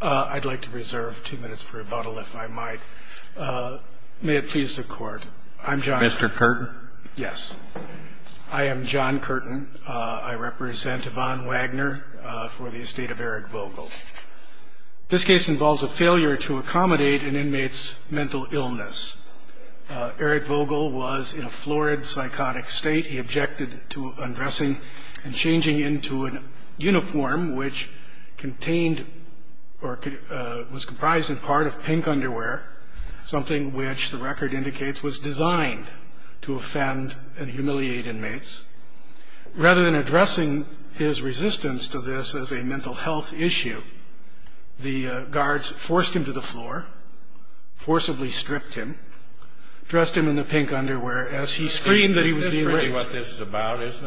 I'd like to reserve two minutes for rebuttal if I might. May it please the court. I'm John. Mr. Curtin. Yes. I am John Curtin. I represent Yvon Wagner for the estate of Eric Vogel. This case involves a failure to accommodate an inmate's mental illness. Eric Vogel was in a florid, psychotic state. He objected to undressing and changing into a uniform which contained or was comprised in part of pink underwear, something which the record indicates was designed to offend and humiliate inmates. Rather than addressing his resistance to this as a mental health issue, the guards forced him to the floor, forcibly stripped him, dressed him in the pink underwear as he screamed that he was being raped. Isn't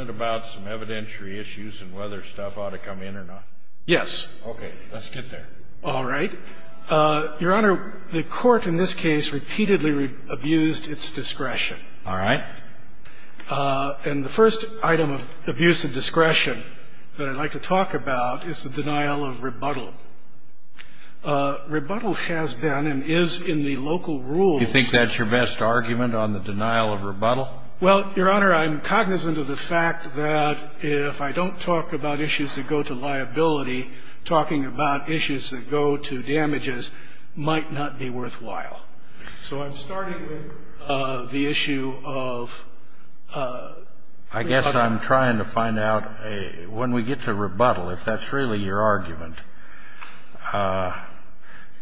it about some evidentiary issues and whether stuff ought to come in or not? Yes. Okay. Let's get there. All right. Your Honor, the court in this case repeatedly abused its discretion. All right. And the first item of abuse of discretion that I'd like to talk about is the denial of rebuttal. Rebuttal has been and is in the local rules. You think that's your best argument on the denial of rebuttal? Well, Your Honor, I'm cognizant of the fact that if I don't talk about issues that go to liability, talking about issues that go to damages might not be worthwhile. So I'm starting with the issue of rebuttal. I guess I'm trying to find out when we get to rebuttal, if that's really your argument,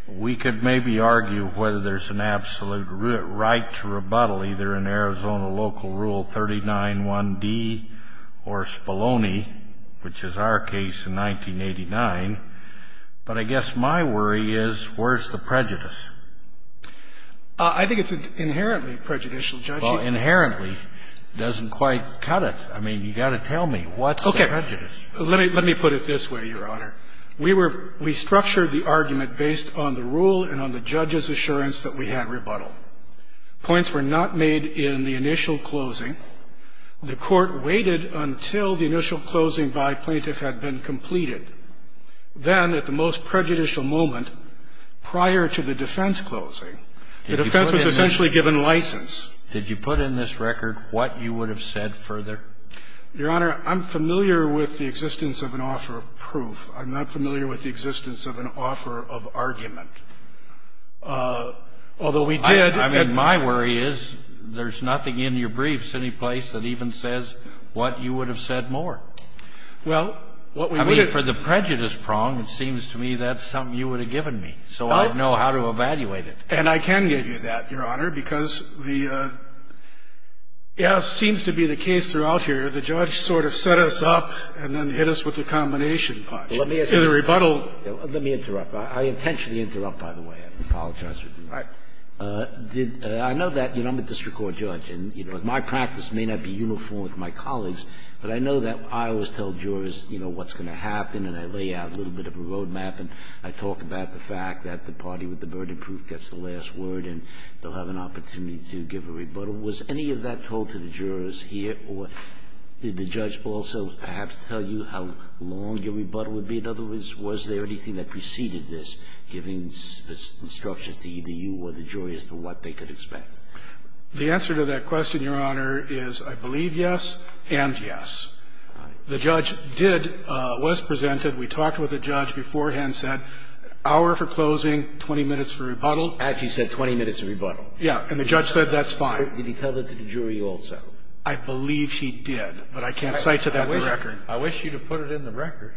we could maybe argue whether there's an absolute right to rebuttal either in Arizona local rule 39.1D or Spalloni, which is our case in 1989. But I guess my worry is where's the prejudice? I think it's inherently prejudicial, Judge. Well, inherently doesn't quite cut it. I mean, you've got to tell me, what's the prejudice? Okay. Let me put it this way, Your Honor. We were we structured the argument based on the rule and on the judge's assurance that we had rebuttal. Points were not made in the initial closing. The court waited until the initial closing by plaintiff had been completed. Then, at the most prejudicial moment prior to the defense closing, the defense was essentially given license. Did you put in this record what you would have said further? Your Honor, I'm familiar with the existence of an offer of proof. I'm not familiar with the existence of an offer of argument. Although we did. I mean, my worry is there's nothing in your briefs any place that even says what you would have said more. Well, what we would have. I mean, for the prejudice prong, it seems to me that's something you would have given me, so I'd know how to evaluate it. And I can give you that, Your Honor, because the as seems to be the case throughout here, the judge sort of set us up and then hit us with the combination punch. Let me ask you this. In the rebuttal. Let me interrupt. I intentionally interrupt, by the way. I apologize for doing that. All right. I know that, you know, I'm a district court judge, and, you know, my practice may not be uniform with my colleagues, but I know that I always tell jurors, you know, what's going to happen, and I lay out a little bit of a road map, and I talk about the fact that the party with the verdict gets the last word and they'll have an opportunity to give a rebuttal. Was any of that told to the jurors here, or did the judge also perhaps tell you how long your rebuttal would be? In other words, was there anything that preceded this, giving instructions to either you or the jury as to what they could expect? The answer to that question, Your Honor, is I believe yes and yes. The judge did, was presented. We talked with the judge beforehand, said hour for closing, 20 minutes for rebuttal. Actually said 20 minutes for rebuttal. Yeah. And the judge said that's fine. Did he tell that to the jury also? I believe he did, but I can't cite to that record. I wish you'd have put it in the record.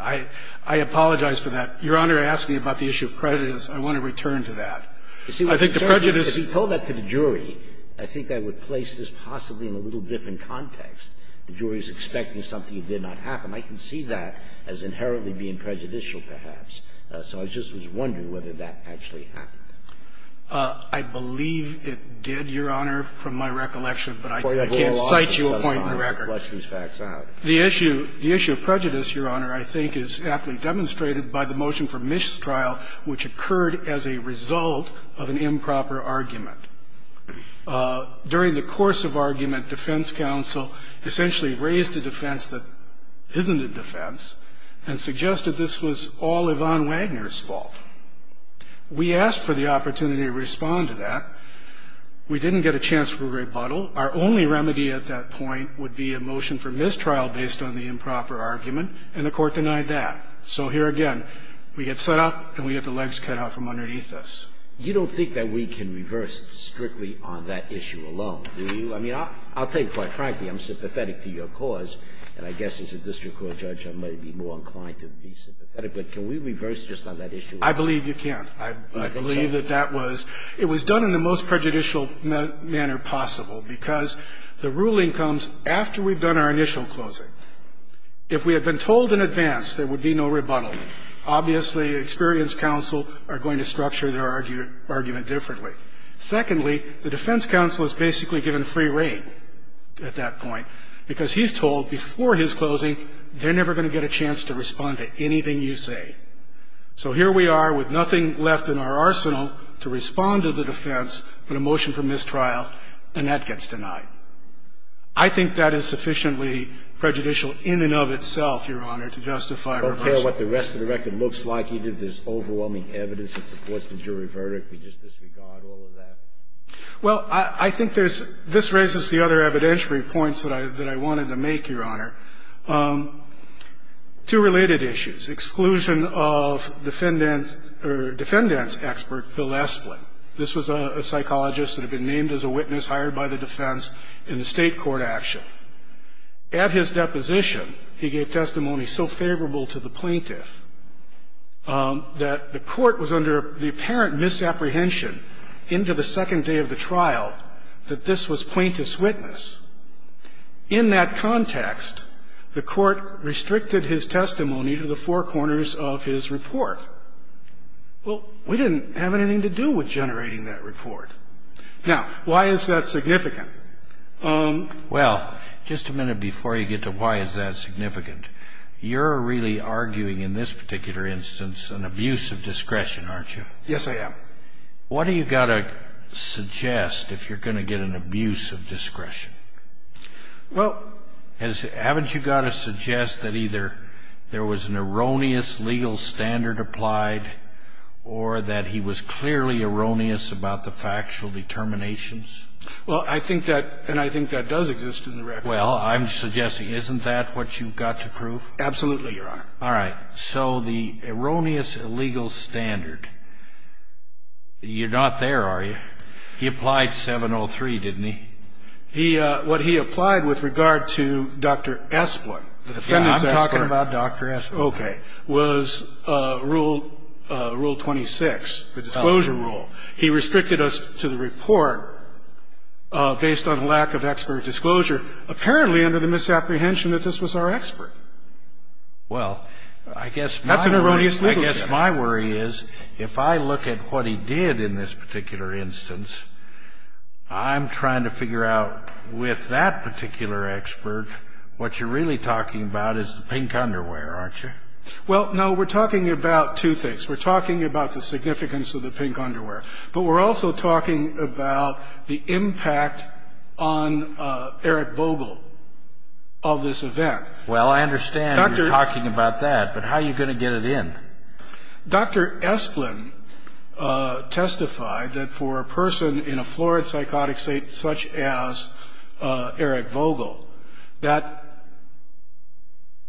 I apologize for that. Your Honor asked me about the issue of prejudice. I want to return to that. You see, if he told that to the jury, I think I would place this possibly in a little different context. The jury is expecting something that did not happen. I can see that as inherently being prejudicial, perhaps. So I just was wondering whether that actually happened. I believe it did, Your Honor, from my recollection, but I can't cite you a point in the record. The issue of prejudice, Your Honor, I think is aptly demonstrated by the motion for mistrial, which occurred as a result of an improper argument. During the course of argument, defense counsel essentially raised a defense that isn't a defense and suggested this was all Yvonne Wagner's fault. We asked for the opportunity to respond to that. We didn't get a chance for rebuttal. Our only remedy at that point would be a motion for mistrial based on the improper argument, and the Court denied that. So here again, we get set up and we get the legs cut out from underneath us. You don't think that we can reverse strictly on that issue alone, do you? I mean, I'll tell you quite frankly, I'm sympathetic to your cause, and I guess as a district court judge I might be more inclined to be sympathetic. But can we reverse just on that issue alone? I believe you can. I believe that that was – it was done in the most prejudicial manner possible because the ruling comes after we've done our initial closing. If we had been told in advance there would be no rebuttal, obviously experience counsel are going to structure their argument differently. Secondly, the defense counsel is basically given free reign at that point because he's told before his closing they're never going to get a chance to respond to anything you say. So here we are with nothing left in our arsenal to respond to the defense but a motion for mistrial, and that gets denied. I think that is sufficiently prejudicial in and of itself, Your Honor, to justify reversing. I don't care what the rest of the record looks like. You did this overwhelming evidence that supports the jury verdict. We just disregard all of that? Well, I think there's – this raises the other evidentiary points that I wanted to make, Your Honor. Two related issues. Exclusion of defendant's – or defendant's expert, Phil Esplin. This was a psychologist that had been named as a witness, hired by the defense in the state court action. At his deposition, he gave testimony so favorable to the plaintiff that the court was under the apparent misapprehension into the second day of the trial that this was plaintiff's witness. In that context, the court restricted his testimony to the four corners of his report. Well, we didn't have anything to do with generating that report. Now, why is that significant? Well, just a minute before you get to why is that significant, you're really arguing in this particular instance an abuse of discretion, aren't you? Yes, I am. What do you got to suggest if you're going to get an abuse of discretion? Well – Haven't you got to suggest that either there was an erroneous legal standard applied or that he was clearly erroneous about the factual determinations? Well, I think that – and I think that does exist in the record. Well, I'm suggesting isn't that what you've got to prove? Absolutely, Your Honor. All right. So the erroneous legal standard, you're not there, are you? He applied 703, didn't he? He – what he applied with regard to Dr. Esplin, the defendant's expert. Yeah, I'm talking about Dr. Esplin. Okay. And what he applied was Rule 26, the Disclosure Rule. He restricted us to the report based on lack of expert disclosure, apparently under the misapprehension that this was our expert. Well, I guess my – That's an erroneous legal standard. I guess my worry is if I look at what he did in this particular instance, I'm trying to figure out with that particular expert what you're really talking about is the Well, no, we're talking about two things. We're talking about the significance of the pink underwear, but we're also talking about the impact on Eric Vogel of this event. Well, I understand you're talking about that, but how are you going to get it in? Dr. Esplin testified that for a person in a florid psychotic state such as Eric Vogel, that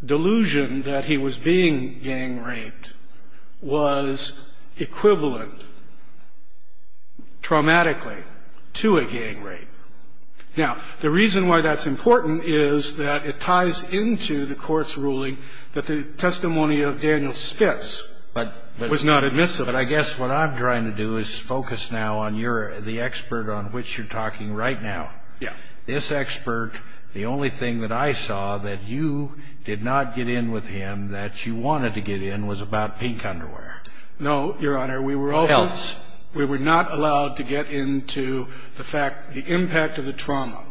delusion that he was being gang raped was equivalent, traumatically, to a gang rape. Now, the reason why that's important is that it ties into the court's ruling that the testimony of Daniel Spitz was not admissible. But I guess what I'm trying to do is focus now on your – the expert on which you're talking right now. Yeah. This expert, the only thing that I saw that you did not get in with him that you wanted to get in was about pink underwear. No, Your Honor, we were also – Health. We were not allowed to get into the fact – the impact of the trauma.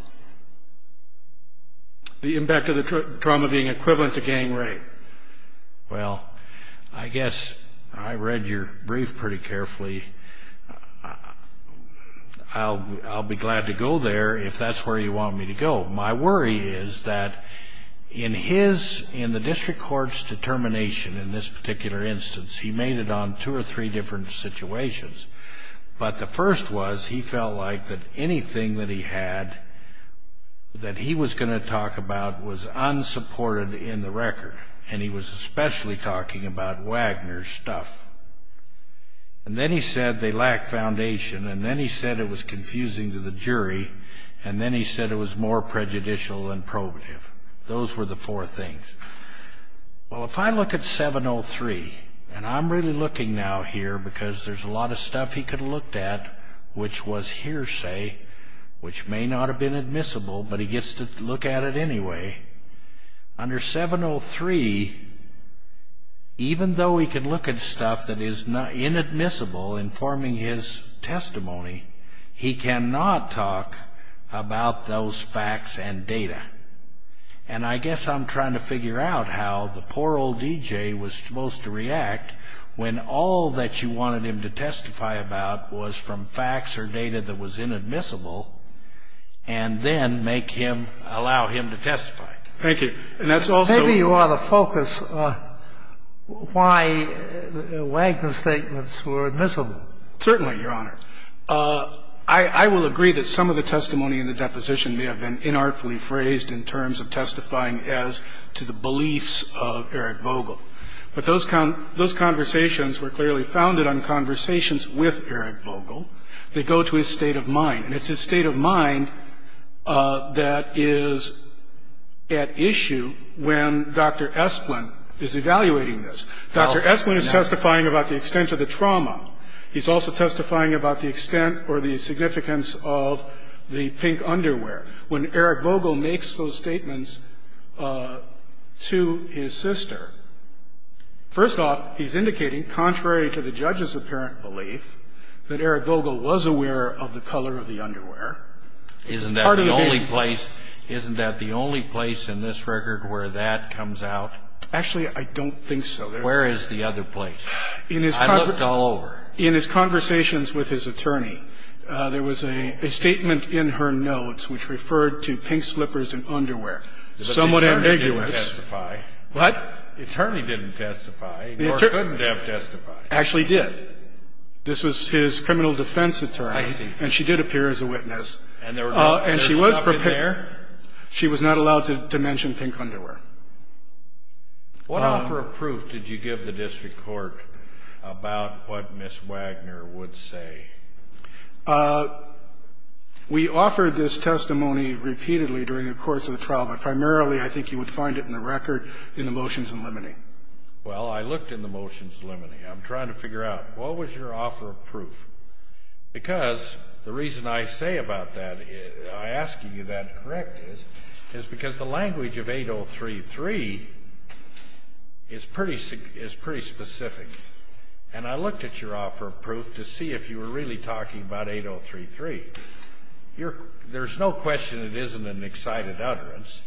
The impact of the trauma being equivalent to gang rape. Well, I guess I read your brief pretty carefully. I'll be glad to go there if that's where you want me to go. My worry is that in his – in the district court's determination in this particular instance, he made it on two or three different situations. But the first was he felt like that anything that he had that he was going to talk about was unsupported in the record. And he was especially talking about Wagner's stuff. And then he said they lacked foundation. And then he said it was confusing to the jury. And then he said it was more prejudicial than probative. Those were the four things. Well, if I look at 703, and I'm really looking now here because there's a lot of stuff he could have looked at which was hearsay, which may not have been admissible, but he gets to look at it anyway. Under 703, even though he could look at stuff that is inadmissible informing his testimony, he cannot talk about those facts and data. And I guess I'm trying to figure out how the poor old DJ was supposed to react when all that you wanted him to testify about was from facts or data that was inadmissible and then make him, allow him to testify. Thank you. And that's also. Maybe you ought to focus on why Wagner's statements were admissible. Certainly, Your Honor. I will agree that some of the testimony in the deposition may have been inartfully phrased in terms of testifying as to the beliefs of Eric Vogel. But those conversations were clearly founded on conversations with Eric Vogel. They go to his state of mind. And it's his state of mind that is at issue when Dr. Esplin is evaluating this. Dr. Esplin is testifying about the extent of the trauma. He's also testifying about the extent or the significance of the pink underwear. When Eric Vogel makes those statements to his sister, first off, he's indicating, contrary to the judge's apparent belief, that Eric Vogel was aware of the color of the underwear. Isn't that the only place? Isn't that the only place in this record where that comes out? Actually, I don't think so. Where is the other place? I looked all over. In his conversations with his attorney, there was a statement in her notes which referred to pink slippers and underwear, somewhat ambiguous. But the attorney didn't testify. What? The attorney didn't testify. Nor couldn't have testified. Actually, he did. This was his criminal defense attorney. I see. And she did appear as a witness. And there was no stop in there? She was not allowed to mention pink underwear. What offer of proof did you give the district court about what Ms. Wagner would say? We offered this testimony repeatedly during the course of the trial. But primarily, I think you would find it in the record in the motions in limine. Well, I looked in the motions in limine. I'm trying to figure out, what was your offer of proof? Because the reason I say about that, I'm asking you that to correct this, is because the language of 8033 is pretty specific. And I looked at your offer of proof to see if you were really talking about 8033. There's no question it isn't an excited utterance.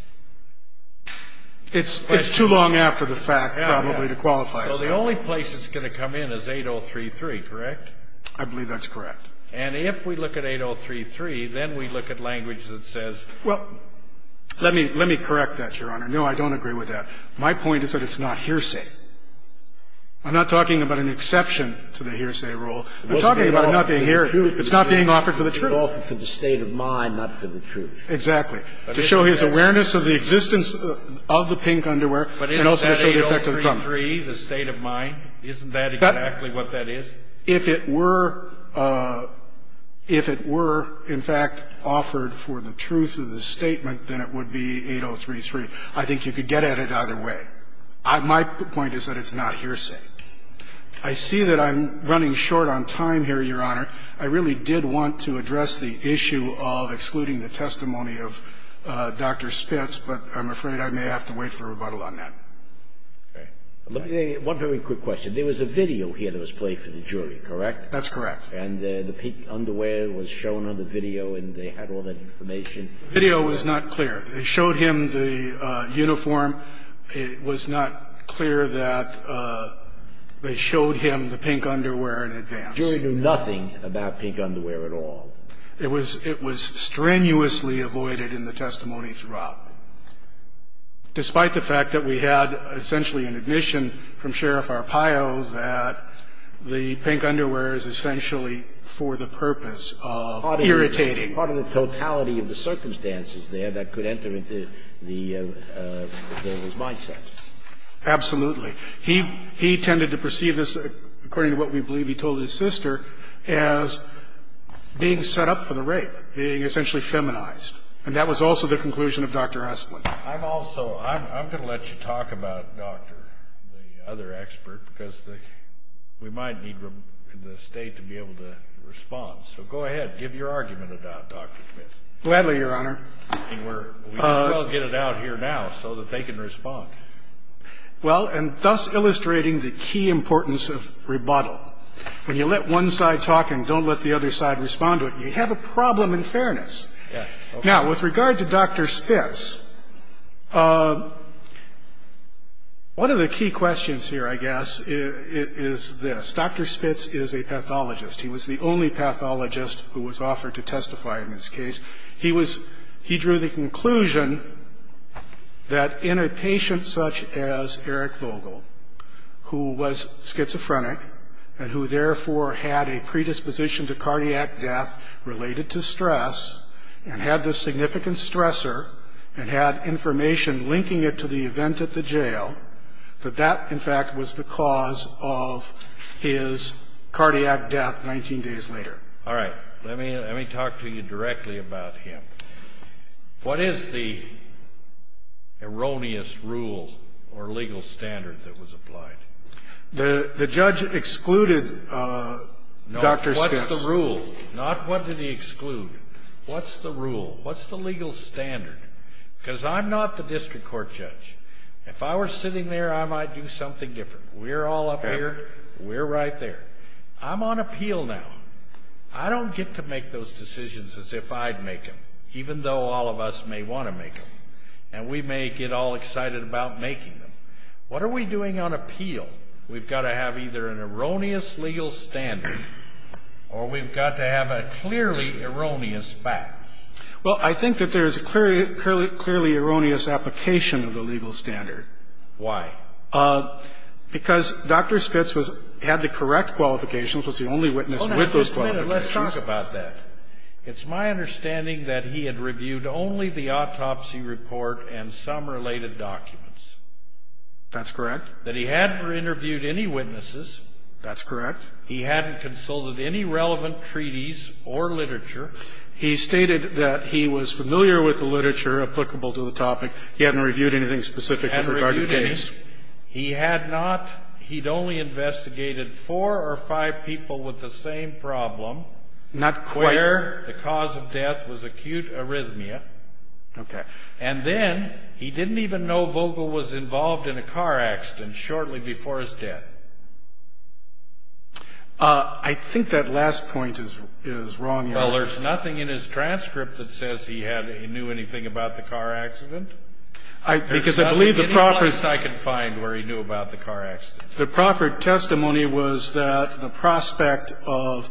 It's too long after the fact, probably, to qualify as that. So the only place it's going to come in is 8033, correct? I believe that's correct. And if we look at 8033, then we look at language that says ---- Well, let me correct that, Your Honor. No, I don't agree with that. My point is that it's not hearsay. I'm not talking about an exception to the hearsay rule. I'm talking about it not being here. It's not being offered for the truth. It's being offered for the state of mind, not for the truth. Exactly. To show his awareness of the existence of the pink underwear and also to show the effect of the trumpet. But isn't that 8033, the state of mind? Isn't that exactly what that is? If it were in fact offered for the truth of the statement, then it would be 8033. I think you could get at it either way. My point is that it's not hearsay. I see that I'm running short on time here, Your Honor. I really did want to address the issue of excluding the testimony of Dr. Spitz, but I'm afraid I may have to wait for rebuttal on that. Okay. Let me say one very quick question. There was a video here that was played for the jury, correct? That's correct. And the pink underwear was shown on the video and they had all that information? The video was not clear. They showed him the uniform. It was not clear that they showed him the pink underwear in advance. The jury knew nothing about pink underwear at all? It was strenuously avoided in the testimony throughout, despite the fact that we had essentially an admission from Sheriff Arpaio that the pink underwear is essentially for the purpose of irritating. Part of the totality of the circumstances there that could enter into the defendant's mindset. Absolutely. He tended to perceive this, according to what we believe he told his sister, as being set up for the rape, being essentially feminized. And that was also the conclusion of Dr. Hussman. I'm also going to let you talk about Dr., the other expert, because we might need the State to be able to respond. So go ahead. Give your argument about Dr. Spitz. Gladly, Your Honor. We'll get it out here now so that they can respond. Well, and thus illustrating the key importance of rebuttal. When you let one side talk and don't let the other side respond to it, you have a problem in fairness. Now, with regard to Dr. Spitz, one of the key questions here, I guess, is this. Dr. Spitz is a pathologist. He was the only pathologist who was offered to testify in this case. He drew the conclusion that in a patient such as Eric Vogel, who was schizophrenic and who therefore had a predisposition to cardiac death related to stress and had this significant stressor and had information linking it to the event at the jail, that that, in fact, was the cause of his cardiac death 19 days later. All right. Let me talk to you directly about him. What is the erroneous rule or legal standard that was applied? The judge excluded Dr. Spitz. No, what's the rule? Not what did he exclude. What's the rule? What's the legal standard? Because I'm not the district court judge. If I were sitting there, I might do something different. We're all up here. We're right there. I'm on appeal now. I don't get to make those decisions as if I'd make them, even though all of us may want to make them. And we may get all excited about making them. What are we doing on appeal? We've got to have either an erroneous legal standard or we've got to have a clearly erroneous fact. Well, I think that there is a clearly erroneous application of the legal standard. Why? Because Dr. Spitz had the correct qualifications, was the only witness with those qualifications. Hold on just a minute. Let's talk about that. It's my understanding that he had reviewed only the autopsy report and some related documents. That's correct. That he hadn't interviewed any witnesses. That's correct. He hadn't consulted any relevant treaties or literature. He stated that he was familiar with the literature applicable to the topic. He hadn't reviewed anything specific in regard to the case. He had not. He'd only investigated four or five people with the same problem. Not quite. Where the cause of death was acute arrhythmia. Okay. And then he didn't even know Vogel was involved in a car accident shortly before his death. I think that last point is wrong. Well, there's nothing in his transcript that says he knew anything about the car accident. Because I believe the proffered testimony was that the prospect of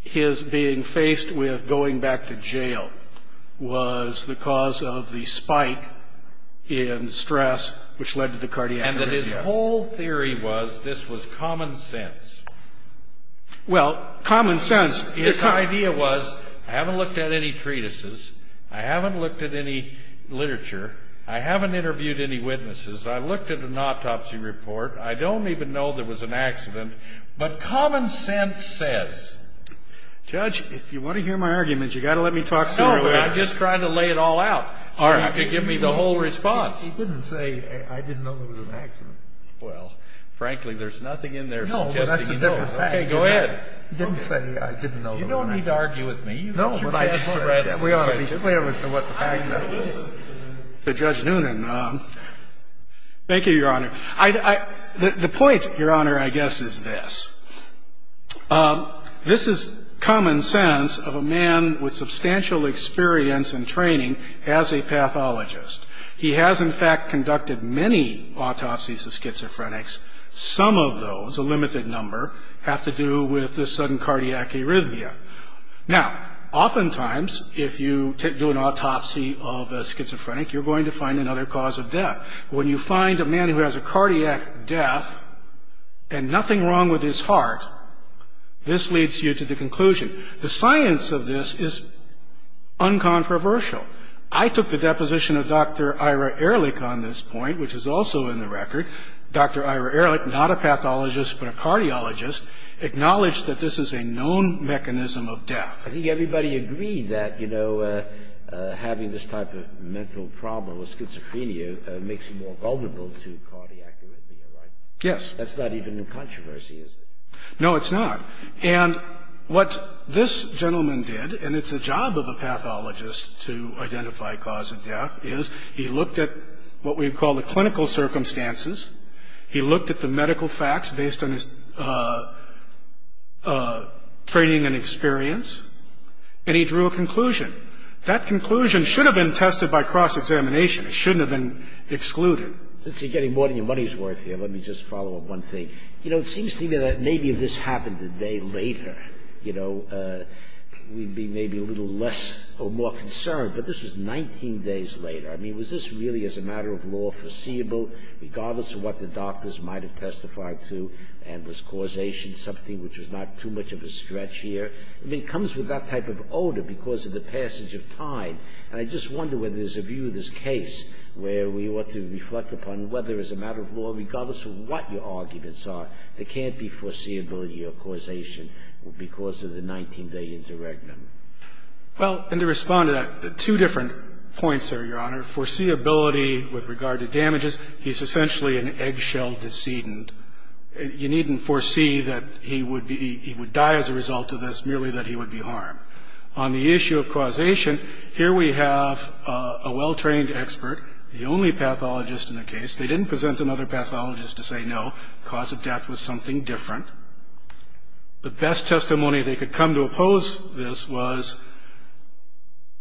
his being faced with going back to jail was the cause of the spike in stress which led to the cardiac arrhythmia. And that his whole theory was this was common sense. Well, common sense. His idea was I haven't looked at any treatises. I haven't looked at any literature. I haven't interviewed any witnesses. I looked at an autopsy report. I don't even know there was an accident. But common sense says. Judge, if you want to hear my arguments, you've got to let me talk sooner or later. No, but I'm just trying to lay it all out so you can give me the whole response. He didn't say I didn't know there was an accident. Well, frankly, there's nothing in there suggesting he knows. No, but that's a different fact. Okay, go ahead. He didn't say I didn't know there was an accident. You don't need to argue with me. You can address the rest of it. We ought to be clear as to what the fact is. To Judge Noonan. Thank you, Your Honor. The point, Your Honor, I guess is this. This is common sense of a man with substantial experience and training as a pathologist. He has, in fact, conducted many autopsies of schizophrenics. Some of those, a limited number, have to do with this sudden cardiac arrhythmia. Now, oftentimes if you do an autopsy of a schizophrenic, you're going to find another cause of death. When you find a man who has a cardiac death and nothing wrong with his heart, this leads you to the conclusion. The science of this is uncontroversial. I took the deposition of Dr. Ira Ehrlich on this point, which is also in the record. Dr. Ira Ehrlich, not a pathologist but a cardiologist, acknowledged that this is a known mechanism of death. I think everybody agreed that, you know, having this type of mental problem with schizophrenia makes you more vulnerable to cardiac arrhythmia, right? Yes. That's not even in controversy, is it? No, it's not. And what this gentleman did, and it's the job of a pathologist to identify cause of death, is he looked at what we call the clinical circumstances. He looked at the medical facts based on his training and experience, and he drew a conclusion. That conclusion should have been tested by cross-examination. It shouldn't have been excluded. Since you're getting more than your money's worth here, let me just follow up one thing. You know, it seems to me that maybe if this happened a day later, you know, we'd be maybe a little less or more concerned. But this was 19 days later. I mean, was this really, as a matter of law, foreseeable, regardless of what the doctors might have testified to, and was causation something which was not too much of a stretch here? I mean, it comes with that type of odor because of the passage of time. And I just wonder whether there's a view of this case where we ought to reflect upon whether, as a matter of law, regardless of what your arguments are, there can't be foreseeability of causation because of the 19-day interregnum. Well, and to respond to that, two different points there, Your Honor. Foreseeability with regard to damages, he's essentially an eggshell decedent. You needn't foresee that he would die as a result of this, merely that he would be harmed. On the issue of causation, here we have a well-trained expert, the only pathologist in the case. They didn't present another pathologist to say, no, the cause of death was something different. The best testimony they could come to oppose this was,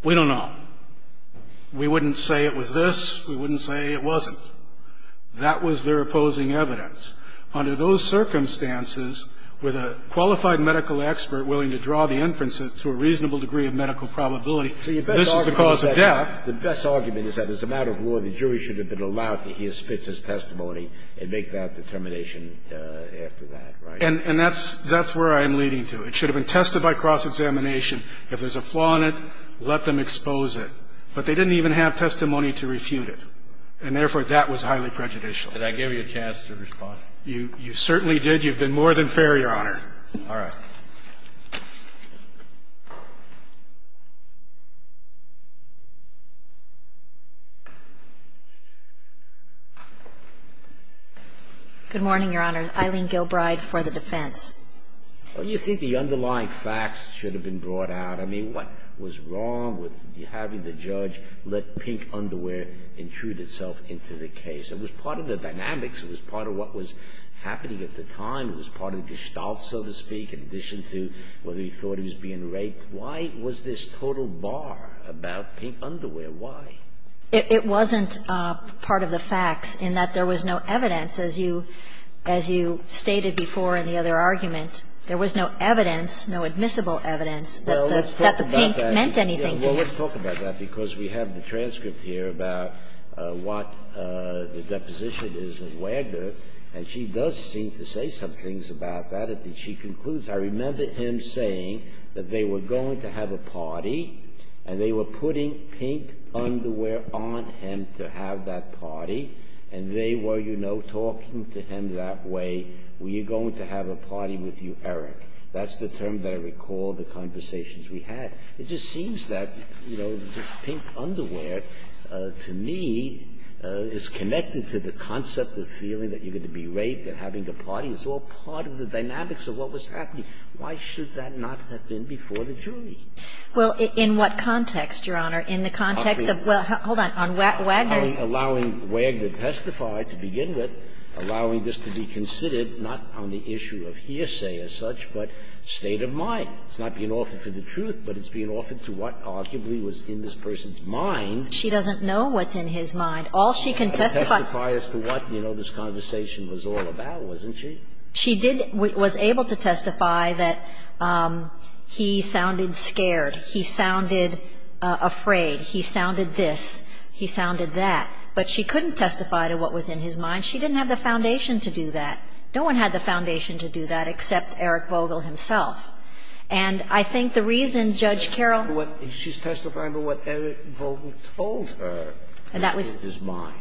we don't know. We wouldn't say it was this. We wouldn't say it wasn't. That was their opposing evidence. Under those circumstances, with a qualified medical expert willing to draw the inferences to a reasonable degree of medical probability, this is the cause of death. The best argument is that, as a matter of law, the jury should have been allowed to hear Spitzer's testimony and make that determination after that, right? And that's where I am leading to. It should have been tested by cross-examination. If there's a flaw in it, let them expose it. But they didn't even have testimony to refute it. And therefore, that was highly prejudicial. Did I give you a chance to respond? You certainly did. You've been more than fair, Your Honor. All right. Good morning, Your Honor. Eileen Gilbride for the defense. Don't you think the underlying facts should have been brought out? I mean, what was wrong with having the judge let pink underwear intrude itself into the case? It was part of the dynamics. It was part of what was happening at the time. It was part of the gestalt, so to speak, in addition to whether he thought he was being raped. Why was this total bar about pink underwear? Why? It wasn't part of the facts in that there was no evidence. As you stated before in the other argument, there was no evidence, no admissible evidence, that the pink meant anything to him. Well, let's talk about that, because we have the transcript here about what the deposition is of Wagner. And she does seem to say some things about that. She concludes, I remember him saying that they were going to have a party, and they were putting pink underwear on him to have that party. And they were, you know, talking to him that way. We are going to have a party with you, Eric. That's the term that I recall the conversations we had. It just seems that, you know, pink underwear, to me, is connected to the concept of feeling that you're going to be raped and having the party. It's all part of the dynamics of what was happening. Why should that not have been before the jury? Well, in what context, Your Honor? In the context of, well, hold on. On Wagner's. I'm allowing Wagner to testify to begin with, allowing this to be considered not on the issue of hearsay as such, but state of mind. It's not being offered for the truth, but it's being offered to what arguably was in this person's mind. She doesn't know what's in his mind. All she can testify. Testify as to what, you know, this conversation was all about, wasn't she? She did was able to testify that he sounded scared. He sounded afraid. He sounded this. He sounded that. But she couldn't testify to what was in his mind. She didn't have the foundation to do that. No one had the foundation to do that except Eric Vogel himself. And I think the reason, Judge Carroll. She's testifying to what Eric Vogel told her was in his mind.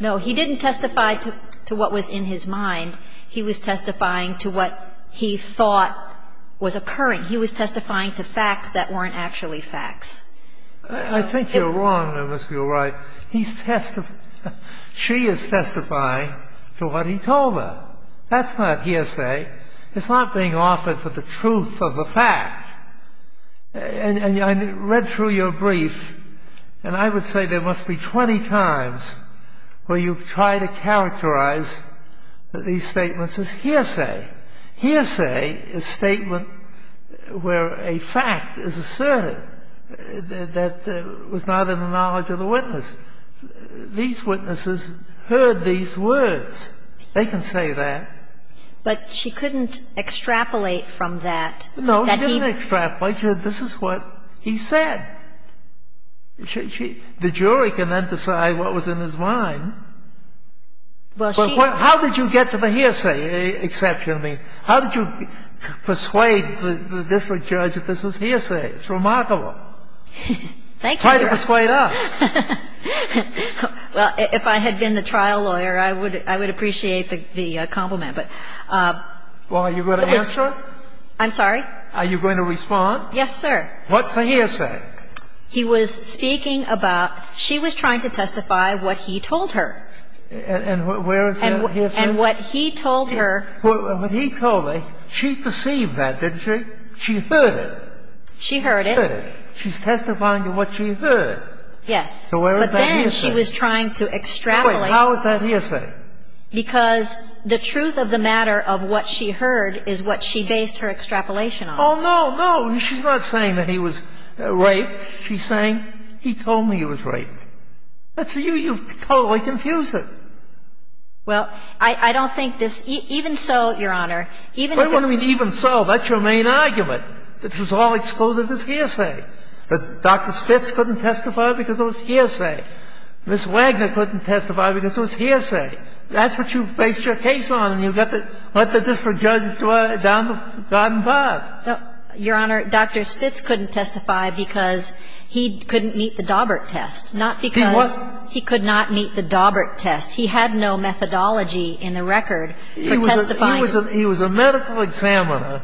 No. He didn't testify to what was in his mind. He was testifying to what he thought was occurring. He was testifying to facts that weren't actually facts. I think you're wrong, Ms. Gilroy. He's testifying, she is testifying to what he told her. That's not hearsay. It's not being offered for the truth of the fact. And I read through your brief, and I would say there must be 20 times where you try to characterize these statements as hearsay. Hearsay is statement where a fact is asserted that was not in the knowledge of the witness. These witnesses heard these words. They can say that. But she couldn't extrapolate from that. No, she didn't extrapolate. She said this is what he said. The jury can then decide what was in his mind. Well, she don't. How did you get to the hearsay exception? I mean, how did you persuade the district judge that this was hearsay? It's remarkable. Thank you, Your Honor. Try to persuade us. Well, if I had been the trial lawyer, I would appreciate the compliment. Well, are you going to answer? I'm sorry? Are you going to respond? Yes, sir. What's the hearsay? He was speaking about she was trying to testify what he told her. And where is that hearsay? And what he told her. What he told her, she perceived that, didn't she? She heard it. She heard it. She heard it. She's testifying to what she heard. Yes. So where is that hearsay? But then she was trying to extrapolate. How is that hearsay? Because the truth of the matter of what she heard is what she based her extrapolation on. Oh, no, no. She's not saying that he was raped. She's saying he told me he was raped. That's for you. You've totally confused it. Well, I don't think this even so, Your Honor. What do you mean even so? That's your main argument, that this was all excluded as hearsay, that Dr. Spitz couldn't testify. Dr. Spitz couldn't testify because it was hearsay. Ms. Wagner couldn't testify because it was hearsay. That's what you've based your case on, and you've got to let the district judge down the garden path. Your Honor, Dr. Spitz couldn't testify because he couldn't meet the Daubert test, not because he could not meet the Daubert test. He had no methodology in the record for testifying. He was a medical examiner.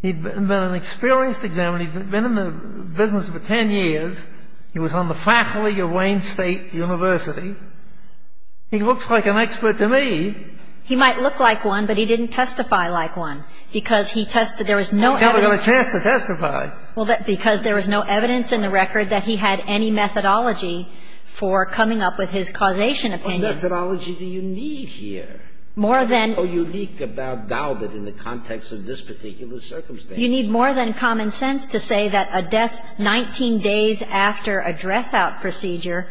He had been an experienced examiner. When he'd been in the business for 10 years, he was on the faculty of Wayne State University. He looks like an expert to me. He might look like one, but he didn't testify like one, because he tested. There was no evidence. He never got a chance to testify. Well, because there was no evidence in the record that he had any methodology for coming up with his causation opinion. What methodology do you need here? More than you need. What's so unique about Daubert in the context of this particular circumstance? You need more than common sense to say that a death 19 days after a dress-out procedure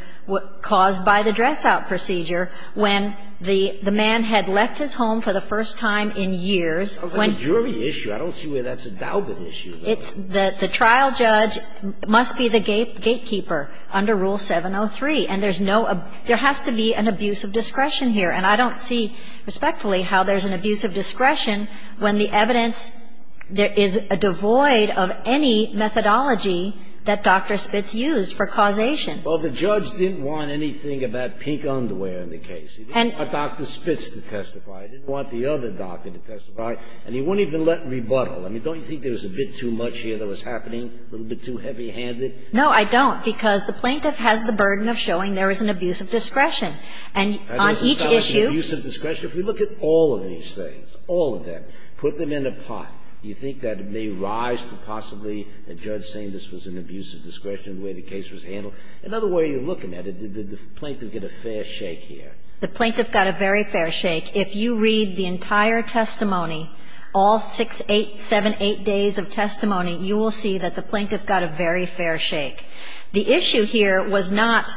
caused by the dress-out procedure, when the man had left his home for the first time in years. Sounds like a jury issue. I don't see where that's a Daubert issue. The trial judge must be the gatekeeper under Rule 703. And there's no – there has to be an abuse of discretion here. And I don't see respectfully how there's an abuse of discretion when the evidence suggests there is a devoid of any methodology that Dr. Spitz used for causation. Well, the judge didn't want anything about pink underwear in the case. He didn't want Dr. Spitz to testify. He didn't want the other doctor to testify. And he wouldn't even let rebuttal. I mean, don't you think there was a bit too much here that was happening, a little bit too heavy-handed? No, I don't, because the plaintiff has the burden of showing there is an abuse And on each issue – Had there not been an abuse of discretion? If we look at all of these things, all of them, put them in a pot, do you think that it may rise to possibly a judge saying this was an abuse of discretion the way the case was handled? Another way of looking at it, did the plaintiff get a fair shake here? The plaintiff got a very fair shake. If you read the entire testimony, all 6, 8, 7, 8 days of testimony, you will see that the plaintiff got a very fair shake. The issue here was not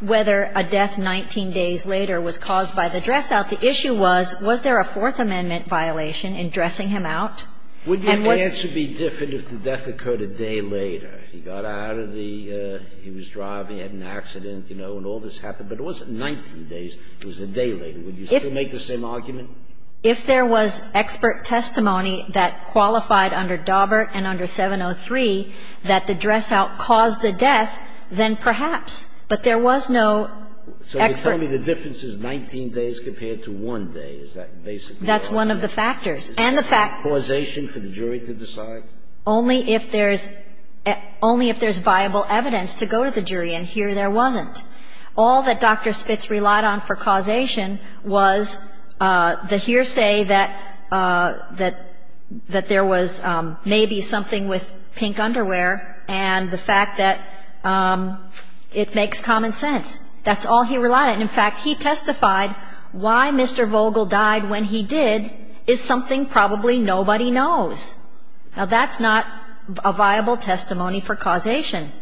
whether a death 19 days later was caused by the dress-out. The issue was, was there a Fourth Amendment violation in dressing him out? And was – Would your answer be different if the death occurred a day later? He got out of the – he was driving, he had an accident, you know, and all this happened. But it wasn't 19 days. It was a day later. Would you still make the same argument? If there was expert testimony that qualified under Daubert and under 703 that the dress-out caused the death, then perhaps. But there was no expert – So you're telling me the difference is 19 days compared to 1 day. Is that basically – That's one of the factors. And the fact – Is there causation for the jury to decide? Only if there's – only if there's viable evidence to go to the jury. And here there wasn't. All that Dr. Spitz relied on for causation was the hearsay that there was maybe something with pink underwear and the fact that it makes common sense. That's all he relied on. And, in fact, he testified why Mr. Vogel died when he did is something probably nobody knows. Now, that's not a viable testimony for causation.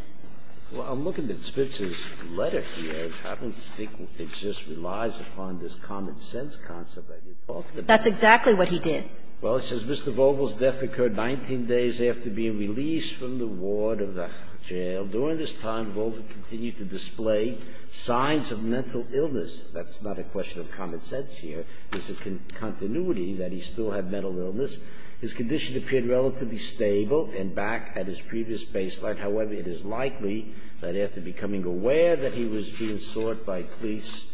Well, I'm looking at Spitz's letter here. I don't think it just relies upon this common sense concept that you're talking That's exactly what he did. Well, it says, Mr. Vogel's death occurred 19 days after being released from the ward of the jail. During this time, Vogel continued to display signs of mental illness. That's not a question of common sense here. It's a continuity that he still had mental illness. His condition appeared relatively stable and back at his previous baseline. However, it is likely that after becoming aware that he was being sought by police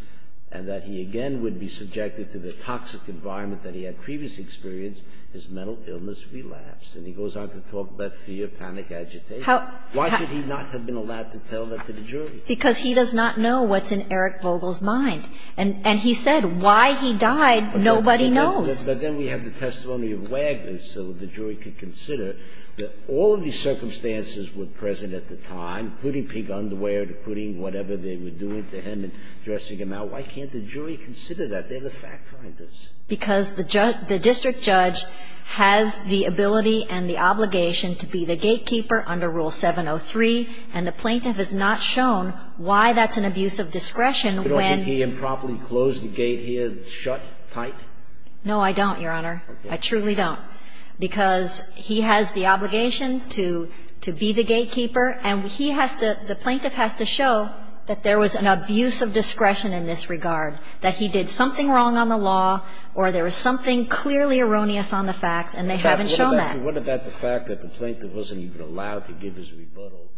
and that he, again, would be subjected to the toxic environment that he had previous experience, his mental illness relapsed. And he goes on to talk about fear, panic, agitation. Why should he not have been allowed to tell that to the jury? Because he does not know what's in Eric Vogel's mind. And he said why he died, nobody knows. But then we have the testimony of Wagner, so the jury could consider that all of these circumstances were present at the time, including pink underwear, including whatever they were doing to him and dressing him out. Why can't the jury consider that? They're the fact-finders. Because the district judge has the ability and the obligation to be the gatekeeper under Rule 703, and the plaintiff has not shown why that's an abuse of discretion when he improperly closed the gate here, shut tight. No, I don't, Your Honor. I truly don't. Because he has the obligation to be the gatekeeper, and he has to the plaintiff has to show that there was an abuse of discretion in this regard, that he did something wrong on the law, or there was something clearly erroneous on the facts, and they haven't shown that. What about the fact that the plaintiff wasn't even allowed to give his rebuttal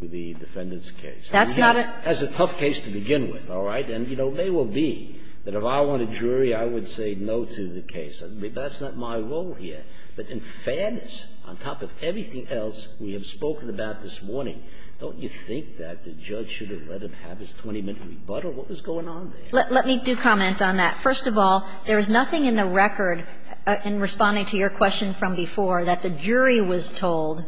to the defendant's case? That's not a That's a tough case to begin with, all right? And, you know, it may well be that if I were a jury, I would say no to the case. That's not my role here. But in fairness, on top of everything else we have spoken about this morning, don't you think that the judge should have let him have his 20-minute rebuttal? What was going on there? Let me do comment on that. First of all, there is nothing in the record, in responding to your question from before, that the jury was told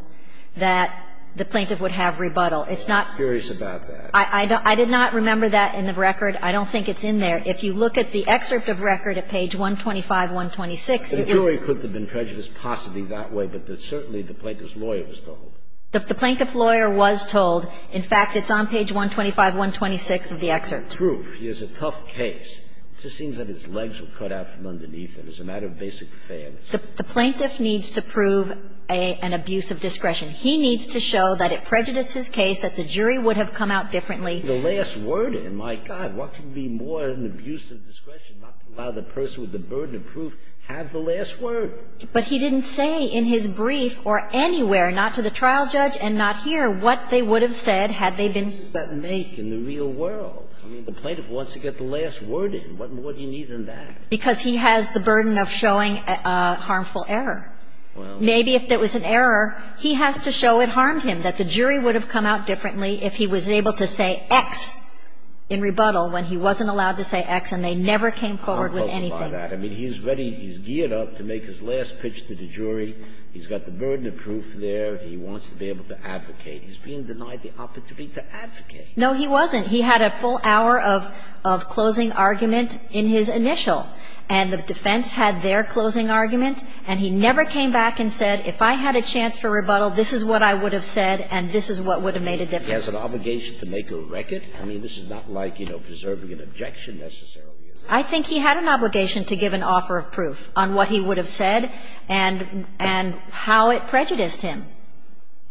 that the plaintiff would have rebuttal. It's not I'm curious about that. I did not remember that in the record. I don't think it's in there. If you look at the excerpt of record at page 125, 126, it was The jury could have been prejudiced possibly that way, but certainly the plaintiff's lawyer was told. The plaintiff's lawyer was told. In fact, it's on page 125, 126 of the excerpt. The proof is a tough case. It just seems that its legs were cut out from underneath it. It's a matter of basic fairness. The plaintiff needs to prove an abuse of discretion. He needs to show that it prejudices his case, that the jury would have come out differently. The last word in, my God, what could be more than abuse of discretion, not to allow the person with the burden of proof to have the last word? But he didn't say in his brief or anywhere, not to the trial judge and not here, what they would have said had they been. What does that make in the real world? I mean, the plaintiff wants to get the last word in. What more do you need than that? Because he has the burden of showing a harmful error. Well. Maybe if there was an error, he has to show it harmed him, that the jury would have come out differently if he was able to say X in rebuttal when he wasn't allowed to say X and they never came forward with anything. I mean, he's ready. He's geared up to make his last pitch to the jury. He's got the burden of proof there. He wants to be able to advocate. He's being denied the opportunity to advocate. No, he wasn't. He had a full hour of closing argument in his initial, and the defense had their closing argument, and he never came back and said, if I had a chance for rebuttal, this is what I would have said and this is what would have made a difference. He has an obligation to make a record? I mean, this is not like, you know, preserving an objection necessarily. I think he had an obligation to give an offer of proof on what he would have said and how it prejudiced him,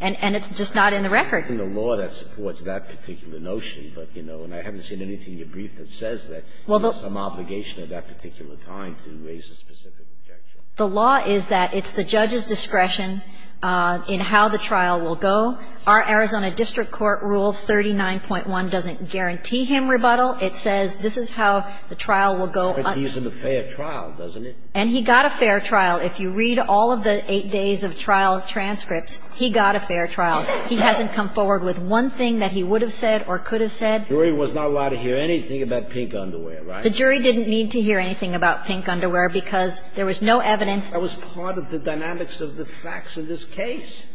and it's just not in the record. I'm not reading the law that supports that particular notion, but, you know, and I haven't seen anything in your brief that says that there's some obligation at that particular time to raise a specific objection. The law is that it's the judge's discretion in how the trial will go. Our Arizona district court rule 39.1 doesn't guarantee him rebuttal. It says this is how the trial will go. But he's in a fair trial, doesn't it? And he got a fair trial. If you read all of the eight days of trial transcripts, he got a fair trial. He hasn't come forward with one thing that he would have said or could have said. The jury was not allowed to hear anything about pink underwear, right? The jury didn't need to hear anything about pink underwear because there was no evidence. That was part of the dynamics of the facts of this case.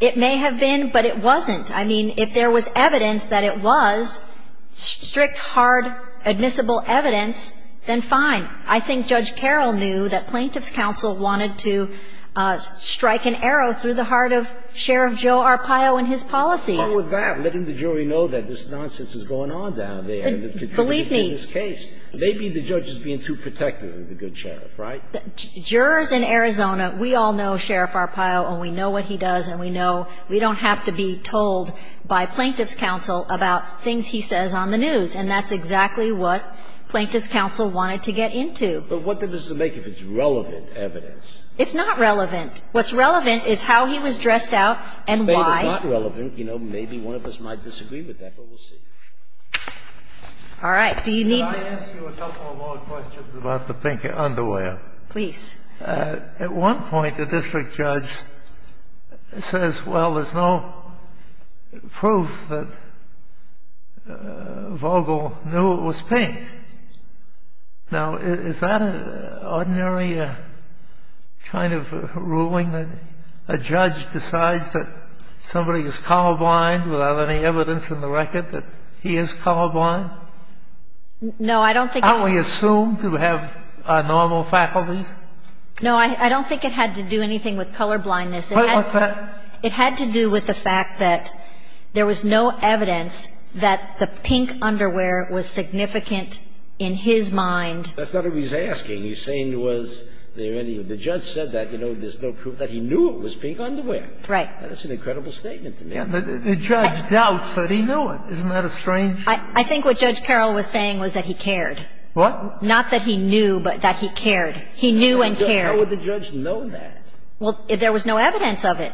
It may have been, but it wasn't. I mean, if there was evidence that it was strict, hard, admissible evidence, then fine. I think Judge Carroll knew that Plaintiff's counsel wanted to strike an arrow through the heart of Sheriff Joe Arpaio and his policies. Sotomayor, let the jury know that this nonsense is going on down there. Believe me. In this case, maybe the judge is being too protective of the good sheriff, right? Jurors in Arizona, we all know Sheriff Arpaio, and we know what he does, and we know we don't have to be told by Plaintiff's counsel about things he says on the news. And that's exactly what Plaintiff's counsel wanted to get into. But what does it make if it's relevant evidence? It's not relevant. What's relevant is how he was dressed out and why. So if it's not relevant, you know, maybe one of us might disagree with that, but we'll see. All right. Do you need me to go on? Can I ask you a couple of more questions about the pink underwear? Please. At one point, the district judge says, well, there's no proof that Vogel knew it was pink. Now, is that an ordinary kind of ruling, that a judge decides that somebody is colorblind without any evidence in the record that he is colorblind? No, I don't think so. Aren't we assumed to have normal faculties? No, I don't think it had to do anything with colorblindness. What's that? It had to do with the fact that there was no evidence that the pink underwear was significant in his mind. That's not what he's asking. He's saying, was there any, the judge said that, you know, there's no proof that he knew it was pink underwear. Right. That's an incredible statement to make. The judge doubts that he knew it. Isn't that a strange? I think what Judge Carroll was saying was that he cared. What? Not that he knew, but that he cared. He knew and cared. How would the judge know that? Well, there was no evidence of it.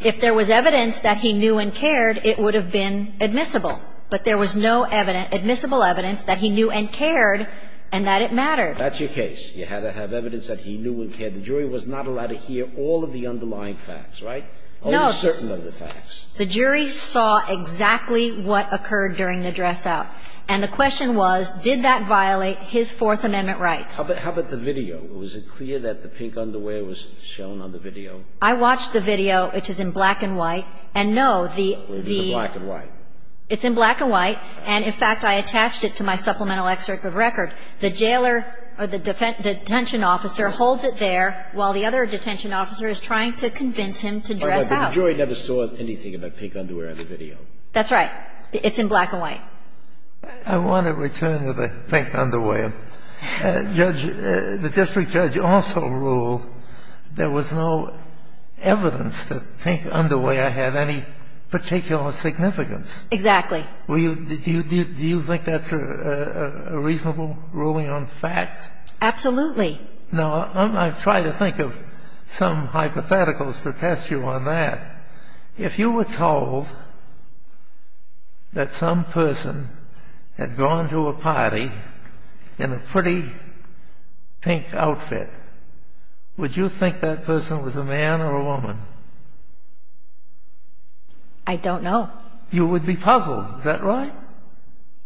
If there was evidence that he knew and cared, it would have been admissible. But there was no admissible evidence that he knew and cared and that it mattered. That's your case. You had to have evidence that he knew and cared. The jury was not allowed to hear all of the underlying facts, right? No. Only a certain number of facts. The jury saw exactly what occurred during the dress-out. And the question was, did that violate his Fourth Amendment rights? How about the video? Was it clear that the pink underwear was shown on the video? I watched the video, which is in black and white. And no, the... It's in black and white. It's in black and white. And in fact, I attached it to my supplemental excerpt of record. The jailer or the detention officer holds it there while the other detention officer is trying to convince him to dress out. But the jury never saw anything about pink underwear on the video. That's right. It's in black and white. I want to return to the pink underwear. Judge – the district judge also ruled there was no evidence that pink underwear had any particular significance. Exactly. Do you think that's a reasonable ruling on fact? Absolutely. Now, I've tried to think of some hypotheticals to test you on that. If you were told that some person had gone to a party in a pretty pink outfit, would you think that person was a man or a woman? I don't know. You would be puzzled, is that right?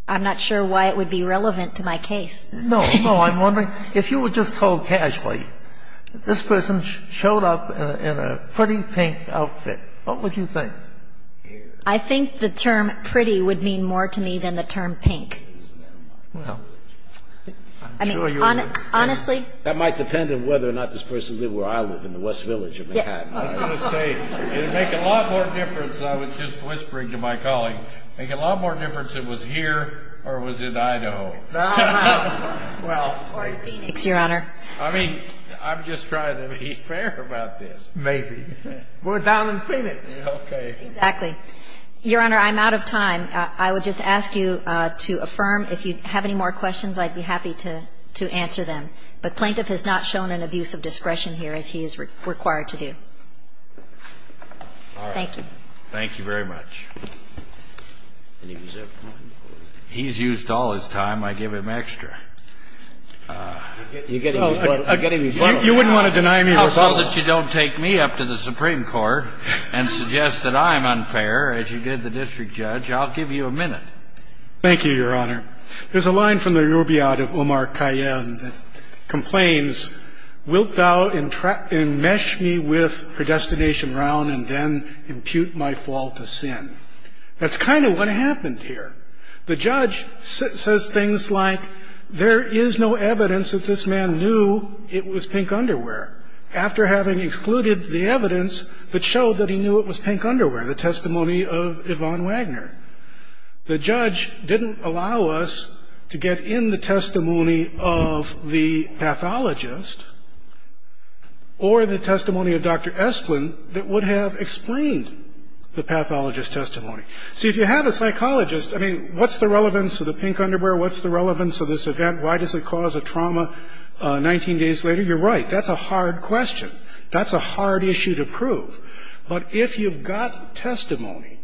I'm not sure why it would be relevant to my case. No, no. I'm wondering if you were just told casually, this person showed up in a pretty pink outfit, what would you think? I think the term pretty would mean more to me than the term pink. Well, I'm sure you would. Honestly? That might depend on whether or not this person lived where I live, in the West Village of Manhattan. I was going to say, it would make a lot more difference, I was just whispering to my colleague, make a lot more difference if it was here or it was in Idaho. No, no. Or in Phoenix, Your Honor. I mean, I'm just trying to be fair about this. Maybe. We're down in Phoenix. Okay. Exactly. Your Honor, I'm out of time. I would just ask you to affirm. If you have any more questions, I'd be happy to answer them. But Plaintiff has not shown an abuse of discretion here, as he is required to do. Thank you. Thank you very much. He's used all his time, I give him extra. You wouldn't want to deny me a rebuttal. How so that you don't take me up to the Supreme Court and suggest that I'm unfair, as you did the district judge. I'll give you a minute. Thank you, Your Honor. There's a line from the Rubiod of Omar Kayen that complains, wilt thou enmesh me with her destination round and then impute my fault to sin? That's kind of what happened here. The judge says things like, there is no evidence that this man knew it was pink underwear, after having excluded the evidence that showed that he knew it was pink underwear, the testimony of Yvonne Wagner. The judge didn't allow us to get in the testimony of the pathologist. Or the testimony of Dr. Esplin that would have explained the pathologist's testimony. See, if you have a psychologist, I mean, what's the relevance of the pink underwear? What's the relevance of this event? Why does it cause a trauma 19 days later? You're right, that's a hard question. That's a hard issue to prove. But if you've got testimony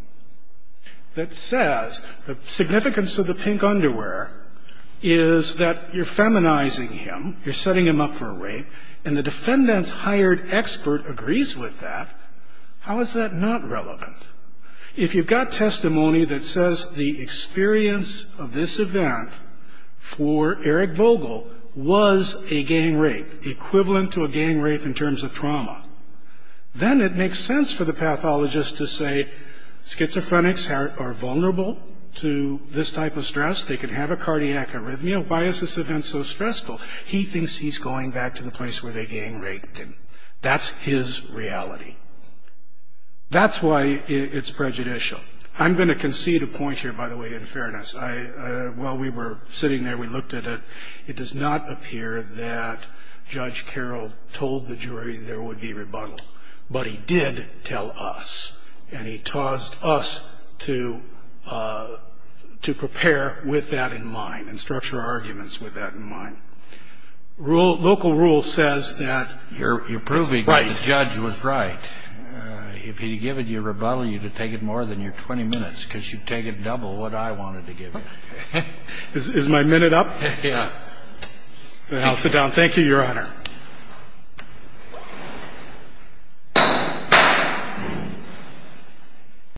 that says the significance of the pink underwear is that you're feminizing him, you're setting him up for rape. And the defendant's hired expert agrees with that. How is that not relevant? If you've got testimony that says the experience of this event for Eric Vogel was a gang rape, equivalent to a gang rape in terms of trauma. Then it makes sense for the pathologist to say, schizophrenics are vulnerable to this type of stress. They can have a cardiac arrhythmia. Why is this event so stressful? He thinks he's going back to the place where the gang raped him. That's his reality. That's why it's prejudicial. I'm going to concede a point here, by the way, in fairness. While we were sitting there, we looked at it. It does not appear that Judge Carroll told the jury there would be rebuttal. But he did tell us. And he taused us to prepare with that in mind and structure arguments with that in mind. Local rule says that- You're proving that the judge was right. If he'd given you a rebuttal, you'd have to take it more than your 20 minutes, because you'd take it double what I wanted to give you. Is my minute up? Yeah. I'll sit down. Thank you, Your Honor.